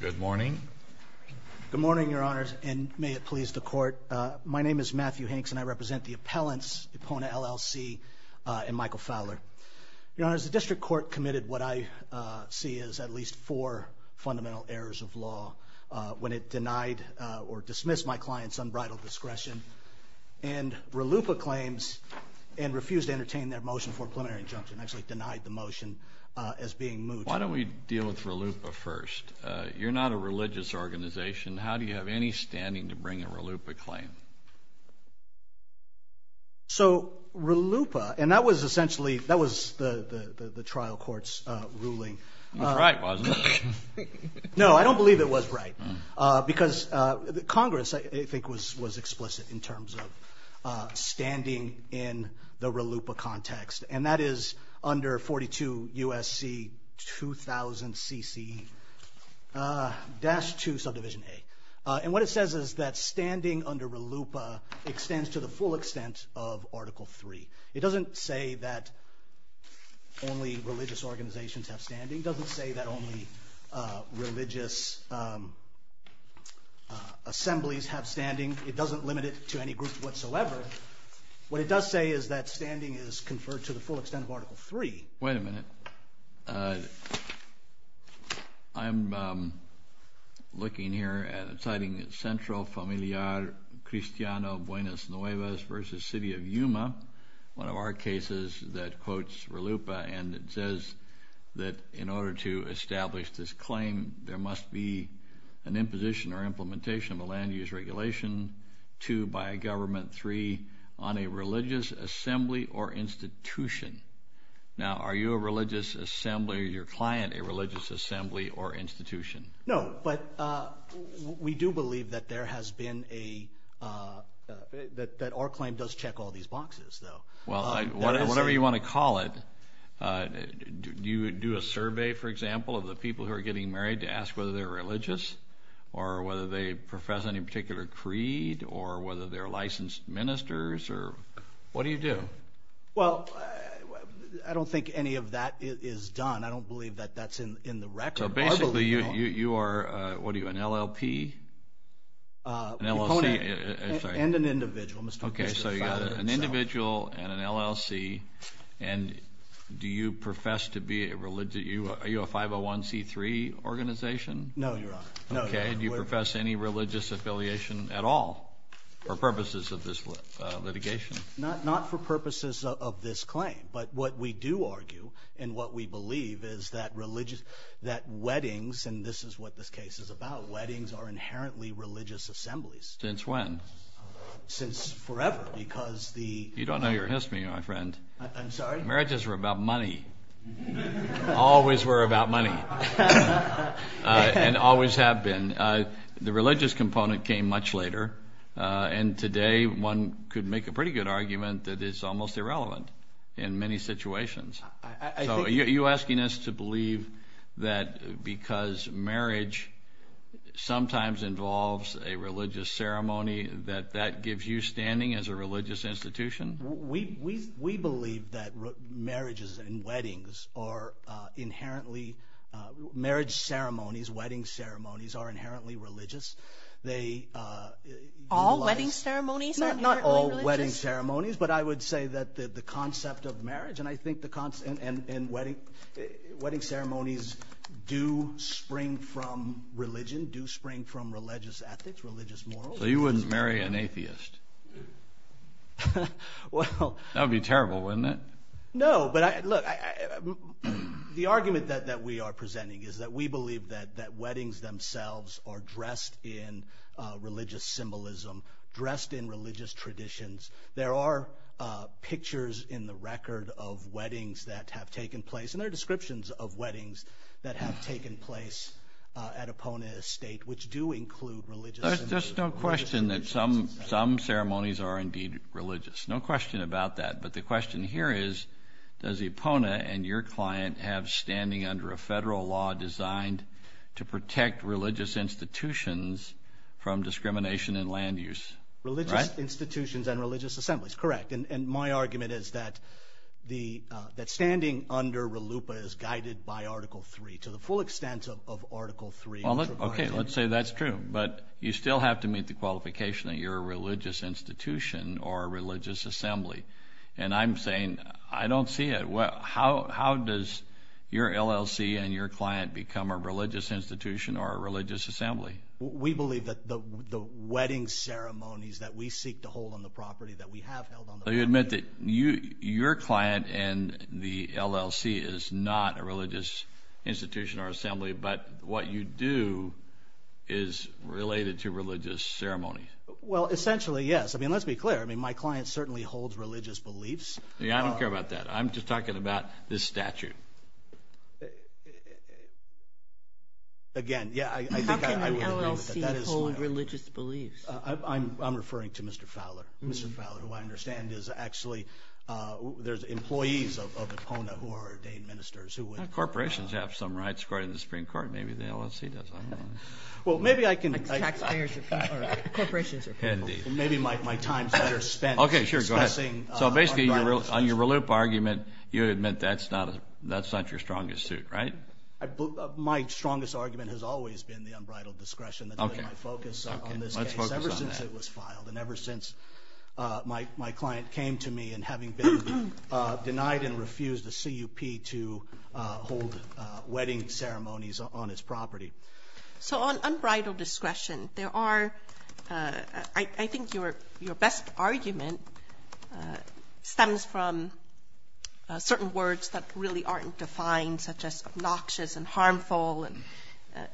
Good morning. Good morning, Your Honors, and may it please the court. My name is Matthew Hanks, and I represent the appellants, Epona, LLC, and Michael Fowler. Your Honors, the district court committed what I see as at least four fundamental errors of law when it denied or dismissed my client's unbridled discretion and RLUIPA claims and refused to entertain their motion for preliminary injunction, actually denied the motion as being moved. Why don't we deal with RLUIPA first? You're not a religious organization. How do you have any standing to bring a RLUIPA claim? So RLUIPA, and that was essentially, that was the trial court's ruling. It was right, wasn't it? No, I don't believe it was right, because Congress, I think, was explicit in terms of standing in the RLUIPA context, and that is under 42 U.S.C. 2000 C.C. dash two subdivision A. And what it says is that standing under RLUIPA extends to the full extent of Article Three. It doesn't say that only religious organizations have standing. It doesn't say that only religious assemblies have standing. It doesn't limit it to any group whatsoever. What it does say is that standing is conferred to the full extent of Article Three. Wait a minute. I'm looking here at a title, Centro Familiar Cristiano Buenos Nuevos versus City of Yuma, one of our cases that quotes RLUIPA, and it says that in order to establish this claim, there must be an imposition or implementation of a land use regulation, two, by a government, three, on a religious assembly or institution. Now, are you a religious assembly or your client a religious assembly or institution? No, but we do believe that there has been a... That our claim does check all these boxes, though. Well, whatever you wanna call it, do you do a survey, for example, of the people who are getting married to ask whether they're religious, or whether they profess any particular creed, or whether they're religious? Well, I don't think any of that is done. I don't believe that that's in the record. So basically, you are, what are you, an LLP? An LLC... And an individual, Mr. Bishop's father. Okay, so you're an individual and an LLC, and do you profess to be a religious... Are you a 501 C3 organization? No, Your Honor. Okay, do you profess any religious affiliation at all, for purposes of this litigation? Not for this claim, but what we do argue, and what we believe, is that religious... That weddings, and this is what this case is about, weddings are inherently religious assemblies. Since when? Since forever, because the... You don't know your history, my friend. I'm sorry? Marriages were about money. Always were about money, and always have been. The religious component came much later, and today, one could make a pretty good argument that it's almost irrelevant. In many situations. Are you asking us to believe that because marriage sometimes involves a religious ceremony, that that gives you standing as a religious institution? We believe that marriages and weddings are inherently... Marriage ceremonies, wedding ceremonies, are inherently religious. They... All wedding ceremonies are inherently religious? Not all wedding ceremonies, but I would say that the concept of marriage, and I think the concept... And wedding ceremonies do spring from religion, do spring from religious ethics, religious morals. So you wouldn't marry an atheist? Well... That would be terrible, wouldn't it? No, but look, the argument that we are presenting is that we believe that weddings themselves are dressed in religious symbolism, dressed in religious traditions. There are pictures in the record of weddings that have taken place, and there are descriptions of weddings that have taken place at Epona Estate, which do include religious... There's no question that some ceremonies are indeed religious. No question about that, but the question here is, does Epona and your client have standing under a federal law designed to protect religious institutions from discrimination and land use? Religious institutions and religious assemblies, correct. And my argument is that standing under RLUIPA is guided by Article 3, to the full extent of Article 3. Okay, let's say that's true, but you still have to meet the qualification that you're a religious institution or a religious assembly. And I'm saying, I don't see it. How does your LLC and your client become a religious institution or a religious assembly? We believe that the wedding ceremonies that we seek to hold on the property, that we have held on the property... So you admit that your client and the LLC is not a religious institution or assembly, but what you do is related to religious ceremonies. Well, essentially, yes. Let's be clear, my client certainly holds religious beliefs. Yeah, I don't care about that. I'm just talking about this statute. Again, yeah, I think I would agree with that. How can an LLC hold religious beliefs? I'm referring to Mr. Fowler. Mr. Fowler, who I understand is actually... There's employees of Epona who are ordained ministers who would... Corporations have some rights according to the Supreme Court, maybe the LLC doesn't. Well, maybe I can... Taxpayers are people... Corporations are people. Indeed. And maybe my time's better spent discussing... Okay, sure, go ahead. So basically, on your relief argument, you admit that's not your strongest suit, right? My strongest argument has always been the unbridled discretion that's really my focus on this case, ever since it was filed and ever since my client came to me and having been denied and refused a CUP to hold wedding ceremonies on his property. So on unbridled discretion, there are... I think your best argument stems from certain words that really aren't defined, such as obnoxious and harmful and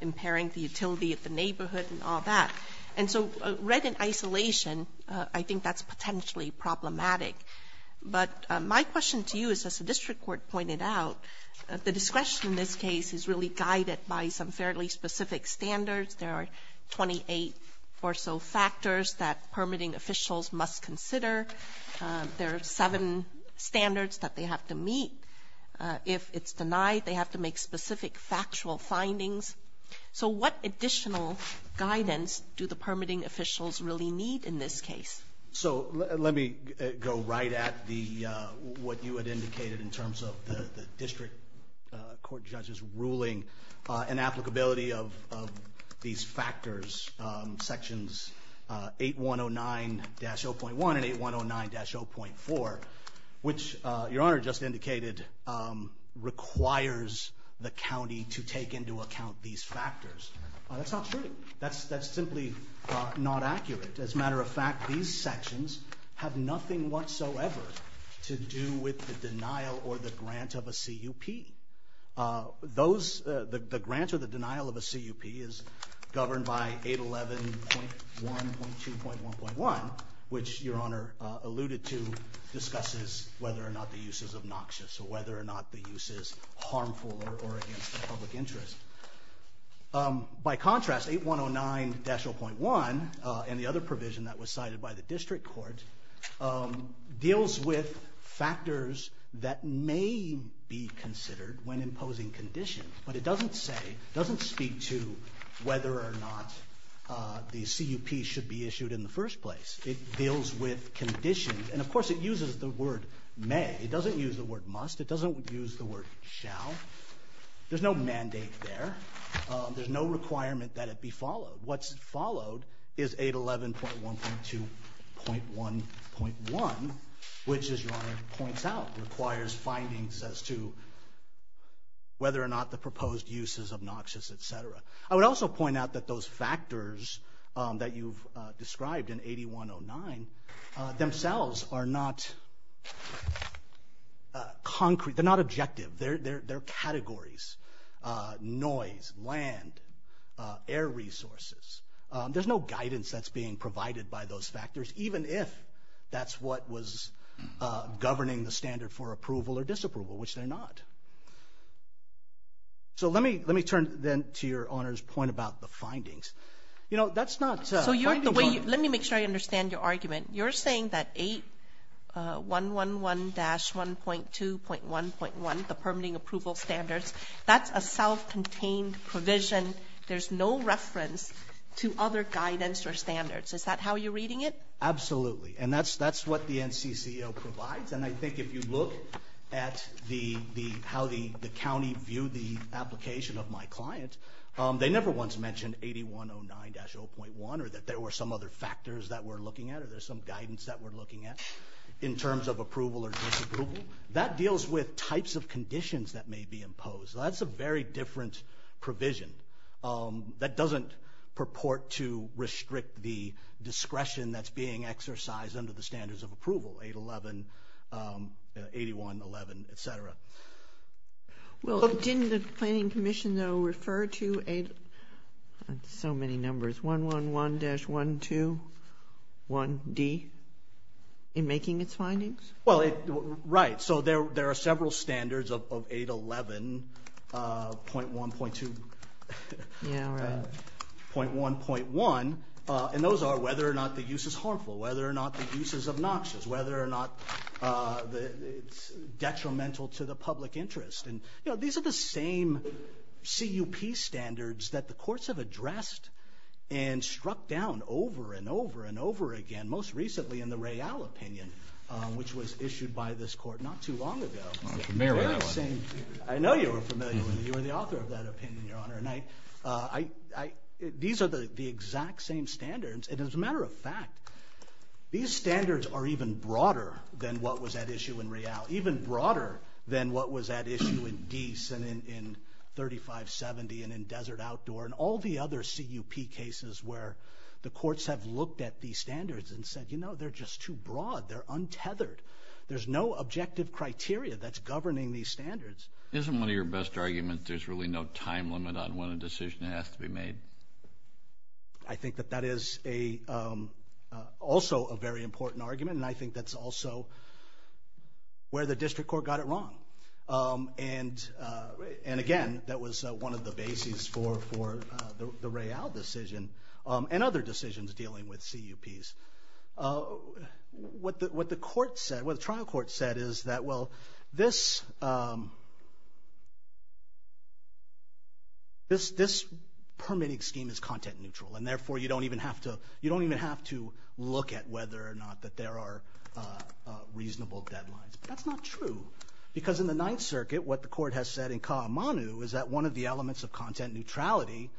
impairing the utility of the neighborhood and all that. And so read in isolation, I think that's potentially problematic. But my question to you is, as the district court pointed out, the discretion in this case is really guided by some fairly specific standards. There are 28 or so factors that permitting officials must consider. There are seven standards that they have to meet. If it's denied, they have to make specific factual findings. So what additional guidance do the permitting officials really need in this case? So let me go right at the... What you had indicated in terms of the district court judge's ruling and applicability of these factors, sections 8109-0.1 and 8109-0.4, which your honor just indicated, requires the county to take into account these factors. That's not true. That's simply not accurate. As a matter of fact, these sections have nothing whatsoever to do with the denial or the grant of a CUP. The grant or the denial of a CUP is governed by 811.1.2.1.1, which your honor alluded to, discusses whether or not the use is obnoxious or whether or not the use is harmful or against the public interest. By contrast, 8109-0.1 and the other provision that was cited by the district court deals with factors that may be considered when imposing conditions, but it doesn't say, doesn't speak to whether or not the CUP should be issued in the first place. It deals with conditions, and of course it uses the word may. It doesn't use the word must. It doesn't use the word shall. There's no mandate there. There's no requirement that it be followed. What's followed is 811.1.2.1.1, which as your honor points out, requires findings as to whether or not the proposed use is obnoxious, etc. I would also point out that those factors that you've described in 8109 themselves are not concrete. They're not objective. They're categories. Noise, land, air resources. There's no guidance that's being provided by those factors, even if that's what was governing the standard for approval or disapproval, which they're not. So let me turn then to your honor's point about the findings. That's not... So you're the way... Let me make sure I understand your argument. You're saying that 8111-1.2.1.1, the permitting approval standards, that's a self contained provision. There's no reference to other guidance or standards. Is that how you're reading it? Absolutely. And that's what the NCCO provides. And I think if you look at how the county viewed the application of my client, they never once mentioned 8109-0.1, or that there were some other factors that we're looking at, or there's some guidance that we're looking at in terms of approval or disapproval. That deals with types of conditions that may be imposed. That's a very different provision. That doesn't purport to restrict the discretion that's being exercised under the standards of approval, 811, 8111, etc. Well, didn't the planning commission refer to 8... So many numbers, 111-121D in making its findings? Well, right. So there are several standards of 811.1.2... Yeah, right. .1.1, and those are whether or not the use is harmful, whether or not the use is obnoxious, whether or not it's detrimental to the public interest. And these are the same CUP standards that the courts have addressed and struck down over and over and over again, most recently in the Royale opinion, which was issued by this court not too long ago. I'm familiar with that one. I know you were familiar with it. You were the author of that opinion, Your Honor. And these are the exact same standards. And as a matter of fact, these standards are even broader than what was at issue in Royale, even broader than what was at issue in Dease and in 3570 and in Desert Outdoor and all the other CUP cases where the courts have looked at these standards and said, you know, they're just too broad, they're untethered. There's no objective criteria that's governing these standards. Isn't one of your best arguments there's really no time limit on when a decision has to be made? I think that that is also a very important argument. And I think that's also where the district court got it wrong. And again, that was one of the bases for the Royale decision and other decisions dealing with CUPs. What the court said, what the trial court said is that, well, this permitting scheme is content neutral. And therefore, you don't even have to look at whether or not that there are reasonable deadlines. That's not true. Because in the Ninth Circuit, what the court has said in Kawamanu is that one of the elements of content neutrality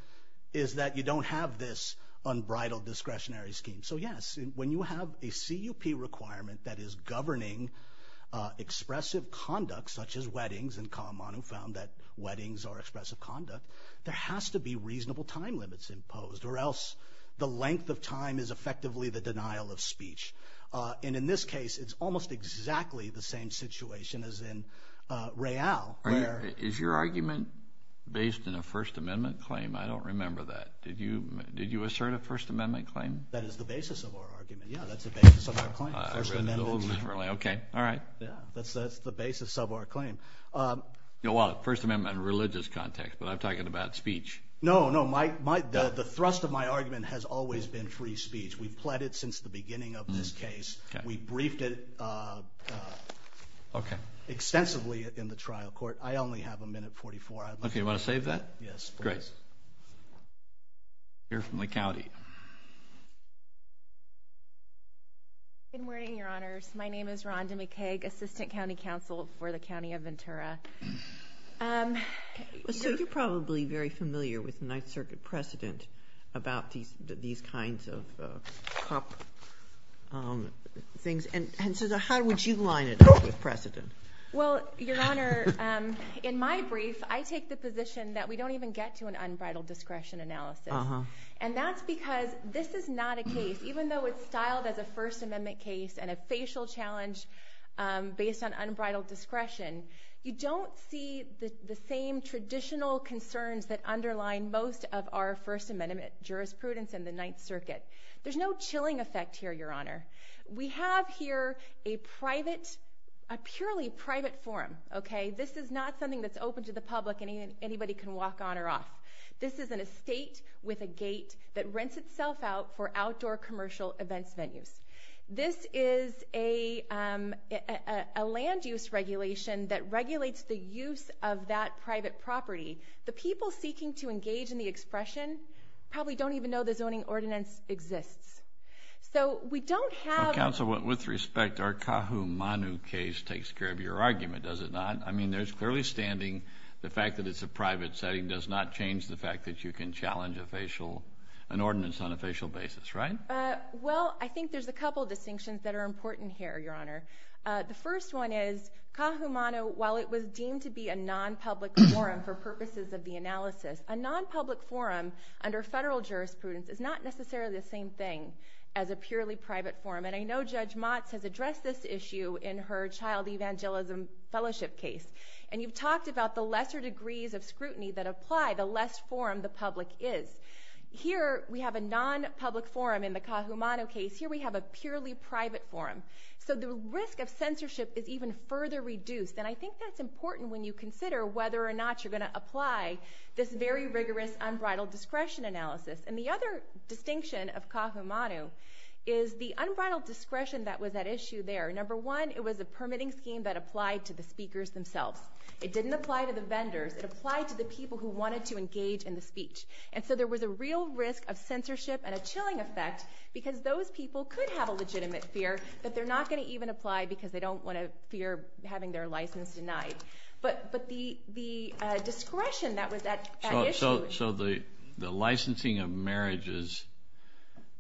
is that you don't have this unbridled discretionary scheme. So yes, when you have a CUP requirement that is governing expressive conduct, such as weddings, and Kawamanu found that weddings are expressive conduct, there has to be reasonable time limits imposed or else the length of time is effectively the denial of speech. And in this case, it's almost exactly the same situation as in Royale. Is your argument based in a First Amendment claim? I don't remember that. Did you did you assert a First Amendment claim? That is the basis of our claim. First Amendment in a religious context, but I'm talking about speech. No, no. The thrust of my argument has always been free speech. We've pleaded since the beginning of this case. We briefed it extensively in the trial court. I only have a minute 44. Okay, you want to save that? Yes. Great. Here from the county. Good morning, Your Honors. My name is Rhonda McCaig, Assistant County Counsel for the County of Ventura. So you're probably very familiar with Ninth Circuit precedent about these kinds of CUP things. And so how would you line it up with precedent? Well, in my brief, I take the position that we don't even get to an end. Because this is not a case, even though it's styled as a First Amendment case and a facial challenge based on unbridled discretion, you don't see the same traditional concerns that underline most of our First Amendment jurisprudence in the Ninth Circuit. There's no chilling effect here, Your Honor. We have here a private, a purely private forum, okay? This is not something that's open to the public and anybody can walk on or off. This is an estate with a gate that rents itself out for outdoor commercial events venues. This is a land use regulation that regulates the use of that private property. The people seeking to engage in the expression probably don't even know the zoning ordinance exists. So we don't have... Counsel, with respect, our Kahumanu case takes care of your argument, does it not? I mean, there's clearly standing the fact that it's a private property, does not change the fact that you can challenge a facial, an ordinance on a facial basis, right? Well, I think there's a couple of distinctions that are important here, Your Honor. The first one is, Kahumanu, while it was deemed to be a non-public forum for purposes of the analysis, a non-public forum under federal jurisprudence is not necessarily the same thing as a purely private forum. And I know Judge Motz has addressed this issue in her child evangelism fellowship case. And you've talked about the lesser degrees of scrutiny that apply, the less forum the public is. Here, we have a non-public forum in the Kahumanu case, here we have a purely private forum. So the risk of censorship is even further reduced. And I think that's important when you consider whether or not you're gonna apply this very rigorous unbridled discretion analysis. And the other distinction of Kahumanu is the unbridled discretion that was at issue there. Number one, it was a permitting scheme that applied to the speakers themselves. It didn't apply to the vendors, it applied to the people who wanted to engage in the speech. And so there was a real risk of censorship and a chilling effect, because those people could have a legitimate fear that they're not gonna even apply because they don't wanna fear having their license denied. But the discretion that was at issue... So the licensing of marriages,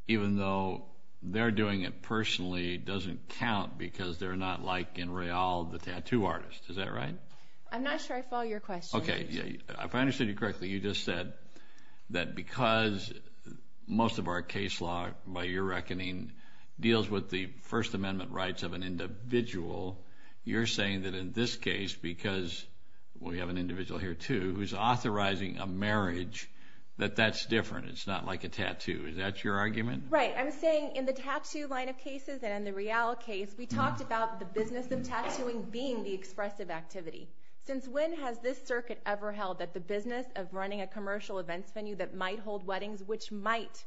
even though they're doing it personally, doesn't count because they're not like in Real, the tattoo artist. Is that right? I'm not sure I follow your question. Okay. If I understood you correctly, you just said that because most of our case law, by your reckoning, deals with the First Amendment rights of an individual, you're saying that in this case, because we have an individual here too, who's authorizing a marriage, that that's different, it's not like a tattoo. Is that your argument? Right. I'm saying in the tattoo line of cases and in the Real case, we talked about the business of tattooing being the expressive activity. Since when has this circuit ever held that the business of running a commercial events venue that might hold weddings, which might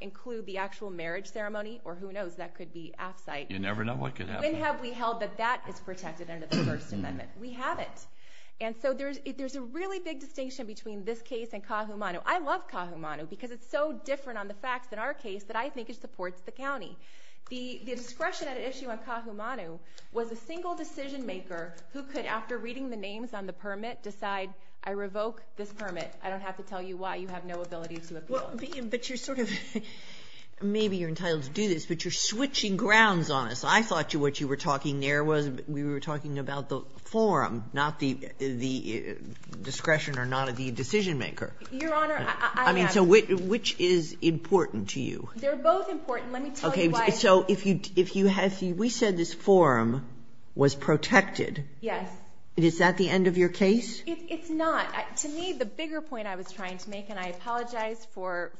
include the actual marriage ceremony, or who knows, that could be off site? You never know what could happen. When have we held that that is protected under the First Amendment? We haven't. And so there's a really big distinction between this case and Kahumanu. I love Kahumanu because it's so different on the facts in our case that I think it is. The issue on Kahumanu was a single decision maker who could, after reading the names on the permit, decide, I revoke this permit. I don't have to tell you why. You have no ability to appeal. Well, but you're sort of... Maybe you're entitled to do this, but you're switching grounds on us. I thought what you were talking there was, we were talking about the forum, not the discretion or not of the decision maker. Your Honor, I have. I mean, so which is important to you? They're both important. Let me tell you why. So if you have... We said this forum was protected. Yes. Is that the end of your case? It's not. To me, the bigger point I was trying to make, and I apologize for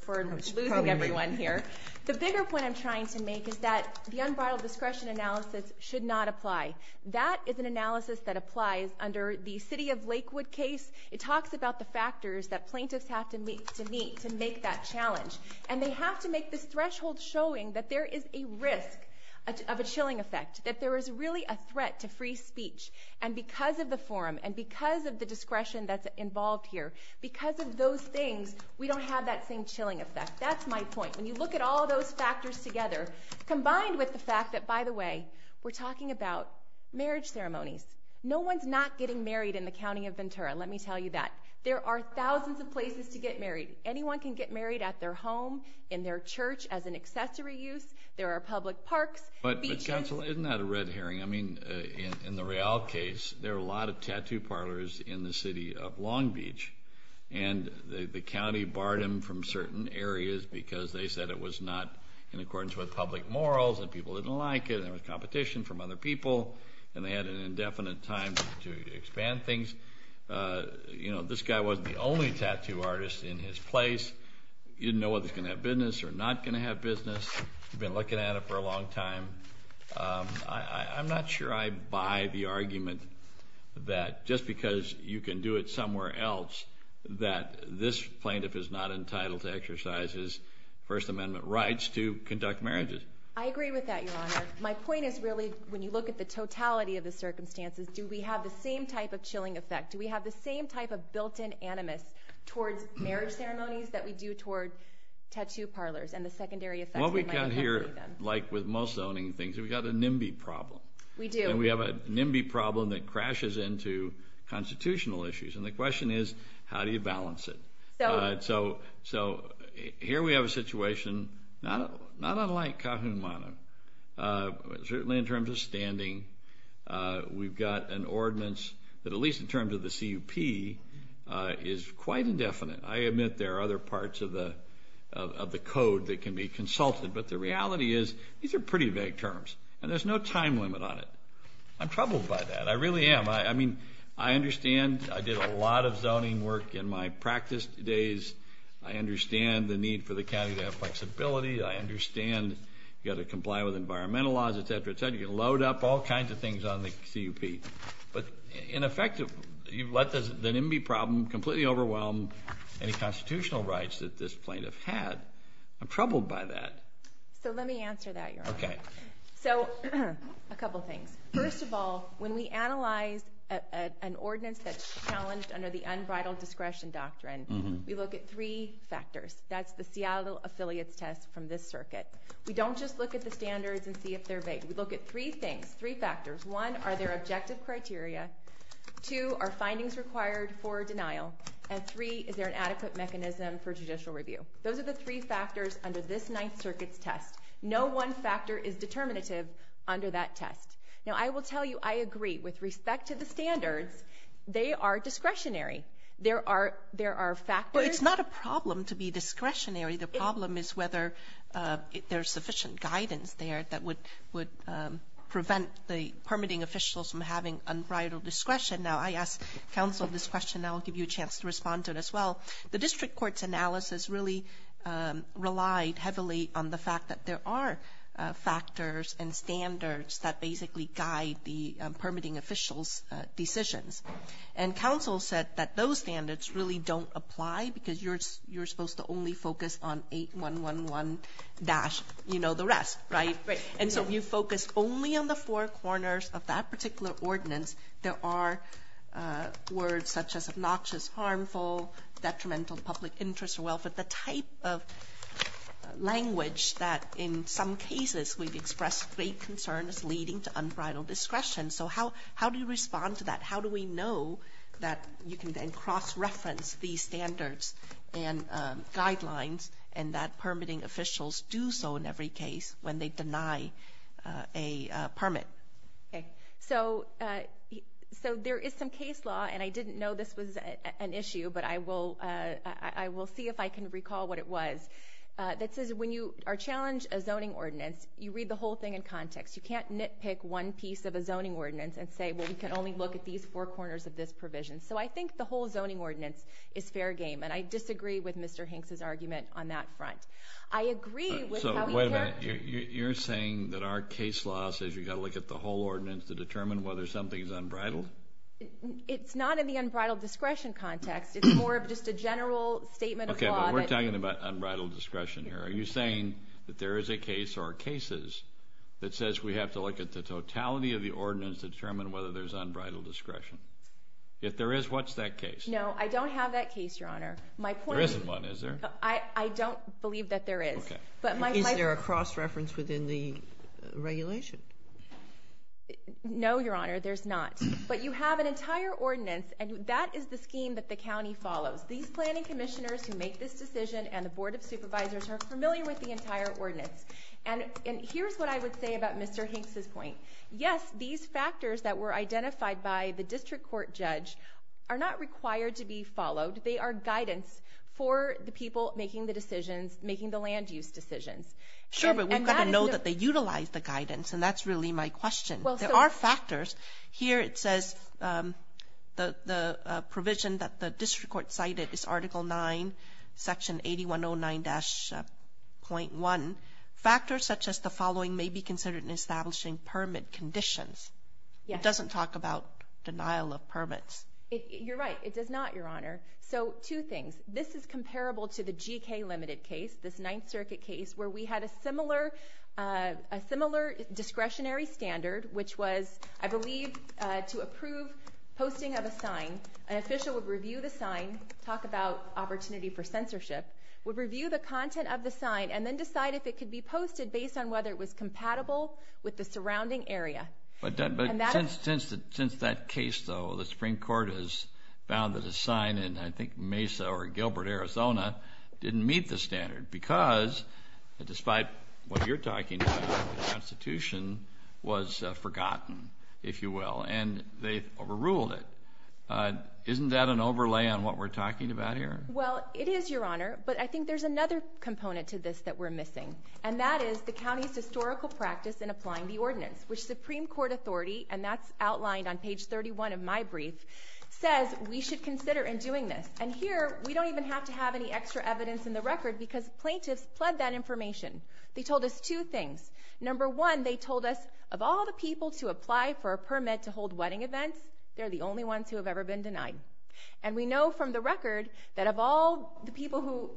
losing everyone here. The bigger point I'm trying to make is that the unbridled discretion analysis should not apply. That is an analysis that applies under the City of Lakewood case. It talks about the factors that plaintiffs have to meet to make that challenge. And they have to make this threshold showing that there is a risk of a chilling effect, that there is really a threat to free speech. And because of the forum, and because of the discretion that's involved here, because of those things, we don't have that same chilling effect. That's my point. When you look at all those factors together, combined with the fact that, by the way, we're talking about marriage ceremonies. No one's not getting married in the County of Ventura, let me tell you that. There are thousands of places to get married. Anyone can get married at their home, in their church, as an accessory use. There are public parks, beaches... But Councilor, isn't that a red herring? In the Real case, there are a lot of tattoo parlors in the City of Long Beach, and the county barred them from certain areas because they said it was not in accordance with public morals, and people didn't like it, and there was competition from other people, and they had an indefinite time to expand things. This guy wasn't the only tattoo artist in his place. You didn't know whether he was gonna have business or not gonna have business. You've been looking at it for a long time. I'm not sure I buy the argument that just because you can do it somewhere else, that this plaintiff is not entitled to exercise his First Amendment rights to conduct marriages. I agree with that, Your Honor. My point is really, when you look at the totality of the effect, do we have the same type of built in animus towards marriage ceremonies that we do toward tattoo parlors, and the secondary effects that might have on them? What we've got here, like with most zoning things, we've got a NIMBY problem. We do. And we have a NIMBY problem that crashes into constitutional issues, and the question is, how do you balance it? So, here we have a situation, not unlike Kahuna, certainly in terms of standing, we've got an ordinance that, at least in terms of the CUP, is quite indefinite. I admit there are other parts of the code that can be consulted, but the reality is, these are pretty vague terms, and there's no time limit on it. I'm troubled by that. I really am. I understand I did a lot of zoning work in my practice days. I understand the need for the county to have flexibility. I understand you gotta comply with environmental laws, et cetera, et cetera. You load up all kinds of things on the CUP. But in effect, you've let the NIMBY problem completely overwhelm any constitutional rights that this plaintiff had. I'm troubled by that. So let me answer that, Your Honor. Okay. So, a couple of things. First of all, when we analyze an ordinance that's challenged under the unbridled discretion doctrine, we look at three factors. That's the Seattle affiliates test from this circuit. We don't just look at the standards and see if they're right. We look at three things, three factors. One, are there objective criteria? Two, are findings required for denial? And three, is there an adequate mechanism for judicial review? Those are the three factors under this Ninth Circuit's test. No one factor is determinative under that test. Now, I will tell you, I agree. With respect to the standards, they are discretionary. There are factors... Well, it's not a problem to be discretionary. The problem is whether there's sufficient guidance there that would prevent the permitting officials from having unbridled discretion. Now, I asked counsel this question. Now, I'll give you a chance to respond to it as well. The district court's analysis really relied heavily on the fact that there are factors and standards that basically guide the permitting officials' decisions. And counsel said that those standards really don't apply because you're dash, you know the rest, right? Right. And so if you focus only on the four corners of that particular ordinance, there are words such as obnoxious, harmful, detrimental public interest or welfare, the type of language that in some cases we've expressed great concerns leading to unbridled discretion. So how do you respond to that? How do we know that you can then cross reference these standards and guidelines and that permitting officials do so in every case when they deny a permit? Okay. So there is some case law, and I didn't know this was an issue, but I will see if I can recall what it was, that says when you are challenged a zoning ordinance, you read the whole thing in context. You can't nitpick one piece of a zoning ordinance and say, well, we can only look at these four corners of this provision. So I think the whole zoning ordinance is fair game, and I disagree with Mr. Hinks' argument on that front. I agree with how he... So, wait a minute. You're saying that our case law says you gotta look at the whole ordinance to determine whether something's unbridled? It's not in the unbridled discretion context, it's more of just a general statement of law that... Okay, but we're talking about unbridled discretion here. Are you saying that there is a case or cases that says we have to look at the totality of the ordinance to determine whether there's unbridled discretion? If there is, what's that case? No, I don't have that case, Your Honor. My point is... There isn't one, is there? I don't believe that there is. Okay. But my point... Is there a cross reference within the regulation? No, Your Honor, there's not. But you have an entire ordinance and that is the scheme that the county follows. These planning commissioners who make this decision and the Board of Supervisors are familiar with the entire ordinance. And here's what I would say about Mr. Hinks' point. Yes, these factors that were identified by the district court judge are not required to be followed. They are guidance for the people making the decisions, making the land use decisions. Sure, but we've got to know that they utilize the guidance and that's really my question. There are factors. Here it says the provision that the district court cited is Article 9, Section 8109-.1. Factors such as the following may be considered in establishing permit conditions. It doesn't talk about denial of permits. You're right. It does not, Your Honor. So, two things. This is comparable to the G.K. Limited case, this Ninth Circuit case where we had a similar discretionary standard, which was, I believe, to approve posting of a sign, an official would review the sign, talk about opportunity for censorship, would review the content of the sign and then decide if it could be posted based on whether it was compatible with the surrounding area. But since that case, though, the Supreme Court has found that a sign in, I think, Mesa or Gilbert, Arizona, didn't meet the standard because, despite what you're talking about, the Constitution was forgotten, if you will, and they overruled it. Isn't that an overlay on what we're talking about here? Well, it is, Your Honor, but I think there's another component to this that we're missing and that is the county's historical practice in applying the ordinance, which Supreme Court authority, and that's outlined on page 31 of my brief, says we should consider in doing this. And here, we don't even have to have any extra evidence in the record because plaintiffs pled that information. They told us two things. Number one, they told us, of all the people to apply for a permit to hold wedding events, they're the only ones who have ever been denied. And we know from the record that of all the people who...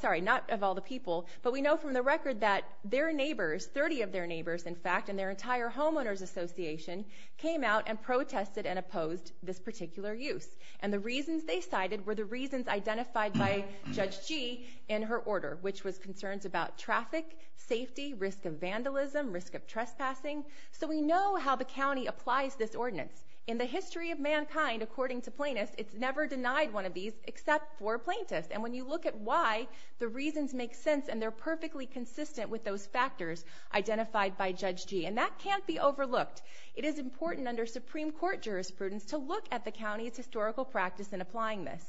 Sorry, not of all the people, but we know from the record that their neighbors, in fact, and their entire homeowners association, came out and protested and opposed this particular use. And the reasons they cited were the reasons identified by Judge Gee in her order, which was concerns about traffic, safety, risk of vandalism, risk of trespassing. So we know how the county applies this ordinance. In the history of mankind, according to plaintiffs, it's never denied one of these except for plaintiffs. And when you look at why, the reasons make sense and they're perfectly consistent with those factors identified by Judge Gee. And that can't be overlooked. It is important under Supreme Court jurisprudence to look at the county's historical practice in applying this.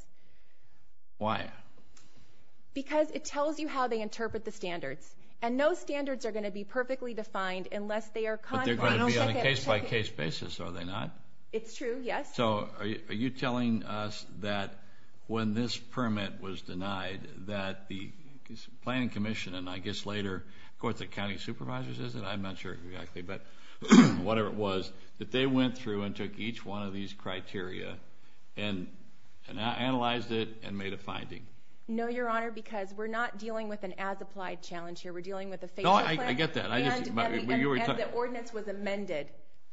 Why? Because it tells you how they interpret the standards. And no standards are gonna be perfectly defined unless they are... But they're gonna be on a case by case basis, are they not? It's true, yes. So are you telling that when this permit was denied, that the Planning Commission, and I guess later, of course the county supervisors is it? I'm not sure exactly, but whatever it was, that they went through and took each one of these criteria and analyzed it and made a finding? No, Your Honor, because we're not dealing with an as applied challenge here. We're dealing with a facial plan. No, I get that. I just... And the ordinance was amended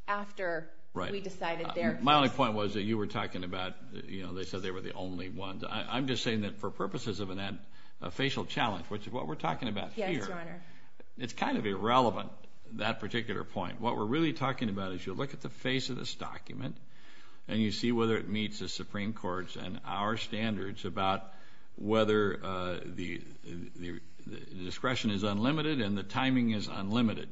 after we decided there. My only point was that you were talking about, they said they were the only ones. I'm just saying that for purposes of an ad, a facial challenge, which is what we're talking about here. Yes, Your Honor. It's kind of irrelevant, that particular point. What we're really talking about is you look at the face of this document and you see whether it meets the Supreme Court's and our standards about whether the discretion is unlimited and the timing is unlimited.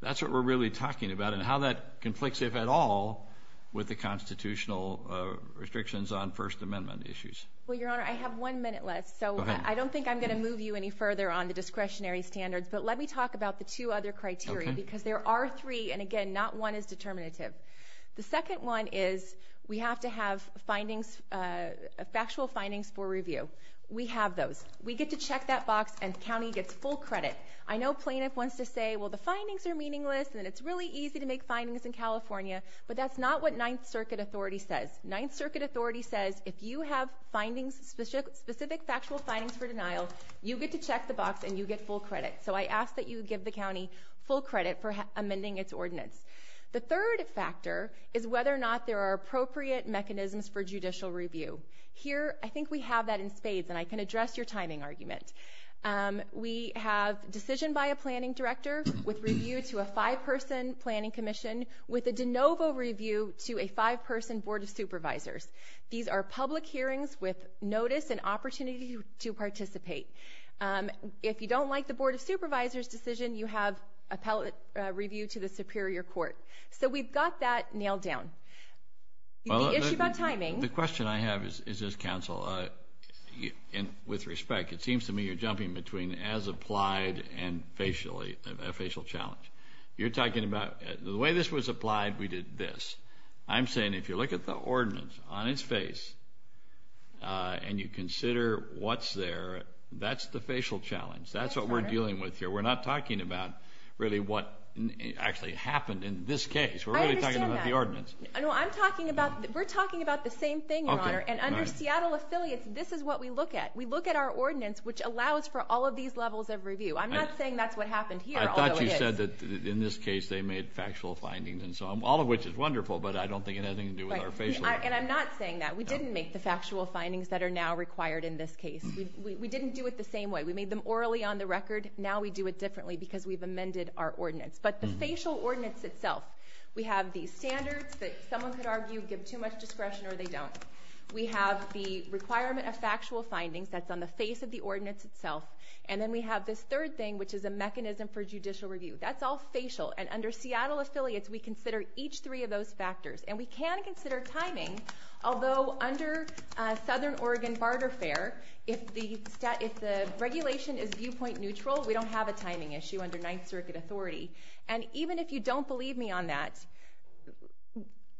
That's what we're really talking about and how that conflicts, if at all, with the constitutional restrictions on First Amendment issues. Well, Your Honor, I have one minute left, so I don't think I'm gonna move you any further on the discretionary standards, but let me talk about the two other criteria, because there are three, and again, not one is determinative. The second one is we have to have factual findings for review. We have those. We get to check that box and the county gets full credit. I know plaintiff wants to say, well, the findings are meaningless and it's really easy to make findings in California, but that's not what Ninth Circuit authority says. Ninth Circuit authority says, if you have findings, specific factual findings for denial, you get to check the box and you get full credit. So I ask that you give the county full credit for amending its ordinance. The third factor is whether or not there are appropriate mechanisms for judicial review. Here, I think we have that in spades and I can address your timing argument. We have decision by a planning director with review to a five person planning commission with a de novo review to a five person board of supervisors. These are public hearings with notice and opportunity to participate. If you don't like the board of supervisors decision, you have appellate review to the superior court. So we've got that nailed down. The issue about timing... Well, the question I have is this, counsel, and with respect, it seems to me you're jumping between as applied and a facial challenge. You're talking about the way this was applied, we did this. I'm saying if you look at the ordinance on its face and you consider what's there, that's the facial challenge. That's what we're dealing with here. We're not talking about really what actually happened in this case. We're really talking about the ordinance. I understand that. No, I'm talking about... We're talking about the same thing, Your Honor, and under Seattle affiliates, this is what we look at. We look at our ordinance, which allows for all of these levels of review. I'm not saying that's what happened here, although it is. I thought you said that in this case, they made factual findings and so on, all of which is wonderful, but I don't think it has anything to do with our facial... And I'm not saying that. We didn't make the factual findings that are now required in this case. We didn't do it the same way. We made them orally on the record. Now we do it differently because we've amended our ordinance. But the facial ordinance itself, we have these standards that someone could argue give too much discretion or they don't. We have the requirement of factual findings that's on the face of the ordinance itself. And then we have this third thing, which is a mechanism for judicial review. That's all facial. And under Seattle affiliates, we consider each three of those factors. And we can consider timing, although under Southern Oregon Barter Fair, if the regulation is viewpoint neutral, we don't have a timing issue under Ninth Circuit authority. And even if you don't believe me on that,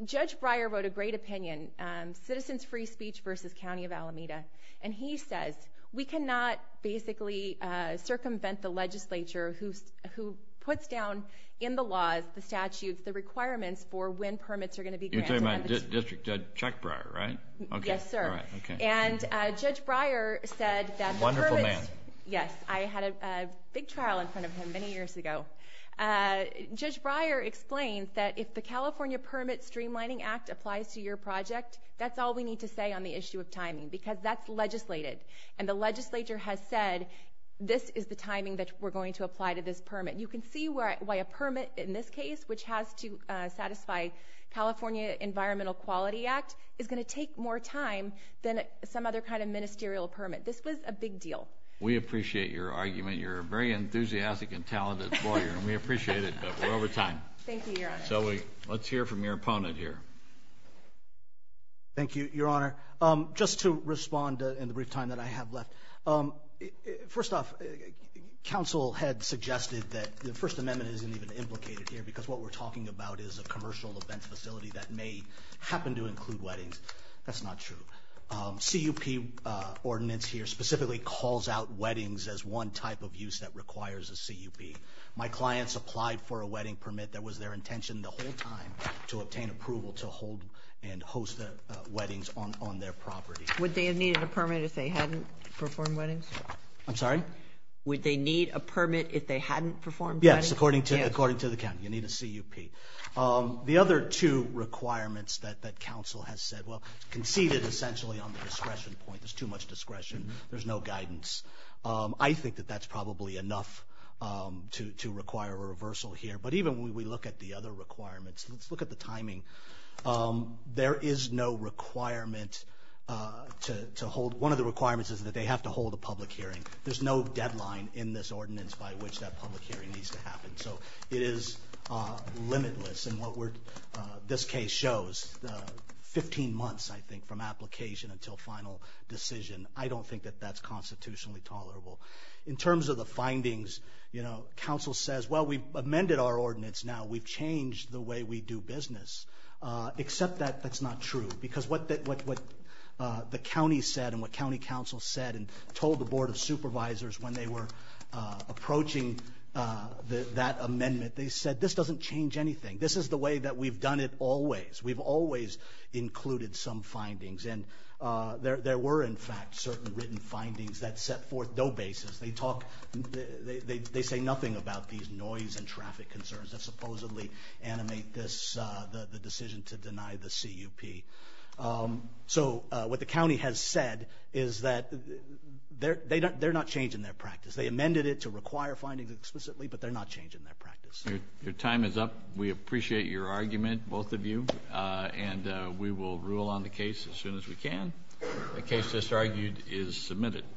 Judge Breyer wrote a great opinion, Citizens Free Speech versus County of Alameda. And he says, we cannot basically circumvent the legislature who puts down in the laws, the statutes, the requirements for when permits are going to be granted. You're talking about District Judge Chuck Breyer, right? Yes, sir. And Judge Breyer said that... Wonderful man. Yes. I had a big trial in front of him many years ago. Judge Breyer explains that if the California Permit Streamlining Act applies to your project, that's all we need to say on the issue of timing because that's legislated. And the legislature has said, this is the timing that we're going to apply to this permit. You can see why a permit in this case, which has to satisfy California Environmental Quality Act, is gonna take more time than some other kind of ministerial permit. This was a big deal. We appreciate your argument. You're a very enthusiastic and talented lawyer, and we appreciate it, but we're over time. Thank you, Your Honor. So let's hear from your opponent here. Thank you, Your Honor. Just to respond in the brief time that I have left. First off, Council had suggested that the First Amendment isn't even implicated here because what we're talking about is a commercial event facility that may happen to include weddings. That's not true. CUP ordinance here specifically calls out weddings as one type of use that requires a CUP. My clients applied for a wedding permit that was their intention the whole time to obtain approval to hold and host the weddings on their property. Would they have needed a permit if they hadn't performed weddings? I'm sorry? Would they need a permit if they hadn't performed weddings? Yes, according to the county. You need a CUP. The other two requirements that Council has said, well, conceded essentially on the discretion point. There's too much discretion. There's no guidance. I think that that's probably enough to require a reversal here. But even when we look at the other requirements, let's look at the timing. There is no requirement to hold... One of the requirements is that they have to hold a public hearing. There's no deadline in this ordinance by which that public hearing needs to happen. So it is limitless in what this case shows. Fifteen months, I think, from application until final decision. I don't think that that's constitutionally tolerable. In terms of the findings, you know, Council says, well, we've amended our ordinance now. We've changed the way we do business. Except that that's not true. Because what the county said and what County Council said and told the Board of Supervisors when they were approaching that amendment, they said, this doesn't change anything. This is the way that we've done it always. We've always included some findings. And there were, in fact, certain written findings that set forth no basis. They talk... They say nothing about these noise and traffic concerns that supposedly animate this, the decision to deny the CUP. So what the county has said is that they're not changing their practice. They amended it to require findings explicitly, but they're not changing their practice. Your time is up. We appreciate your argument, both of you. And we will rule on the case as soon as we can. The case just argued is submitted.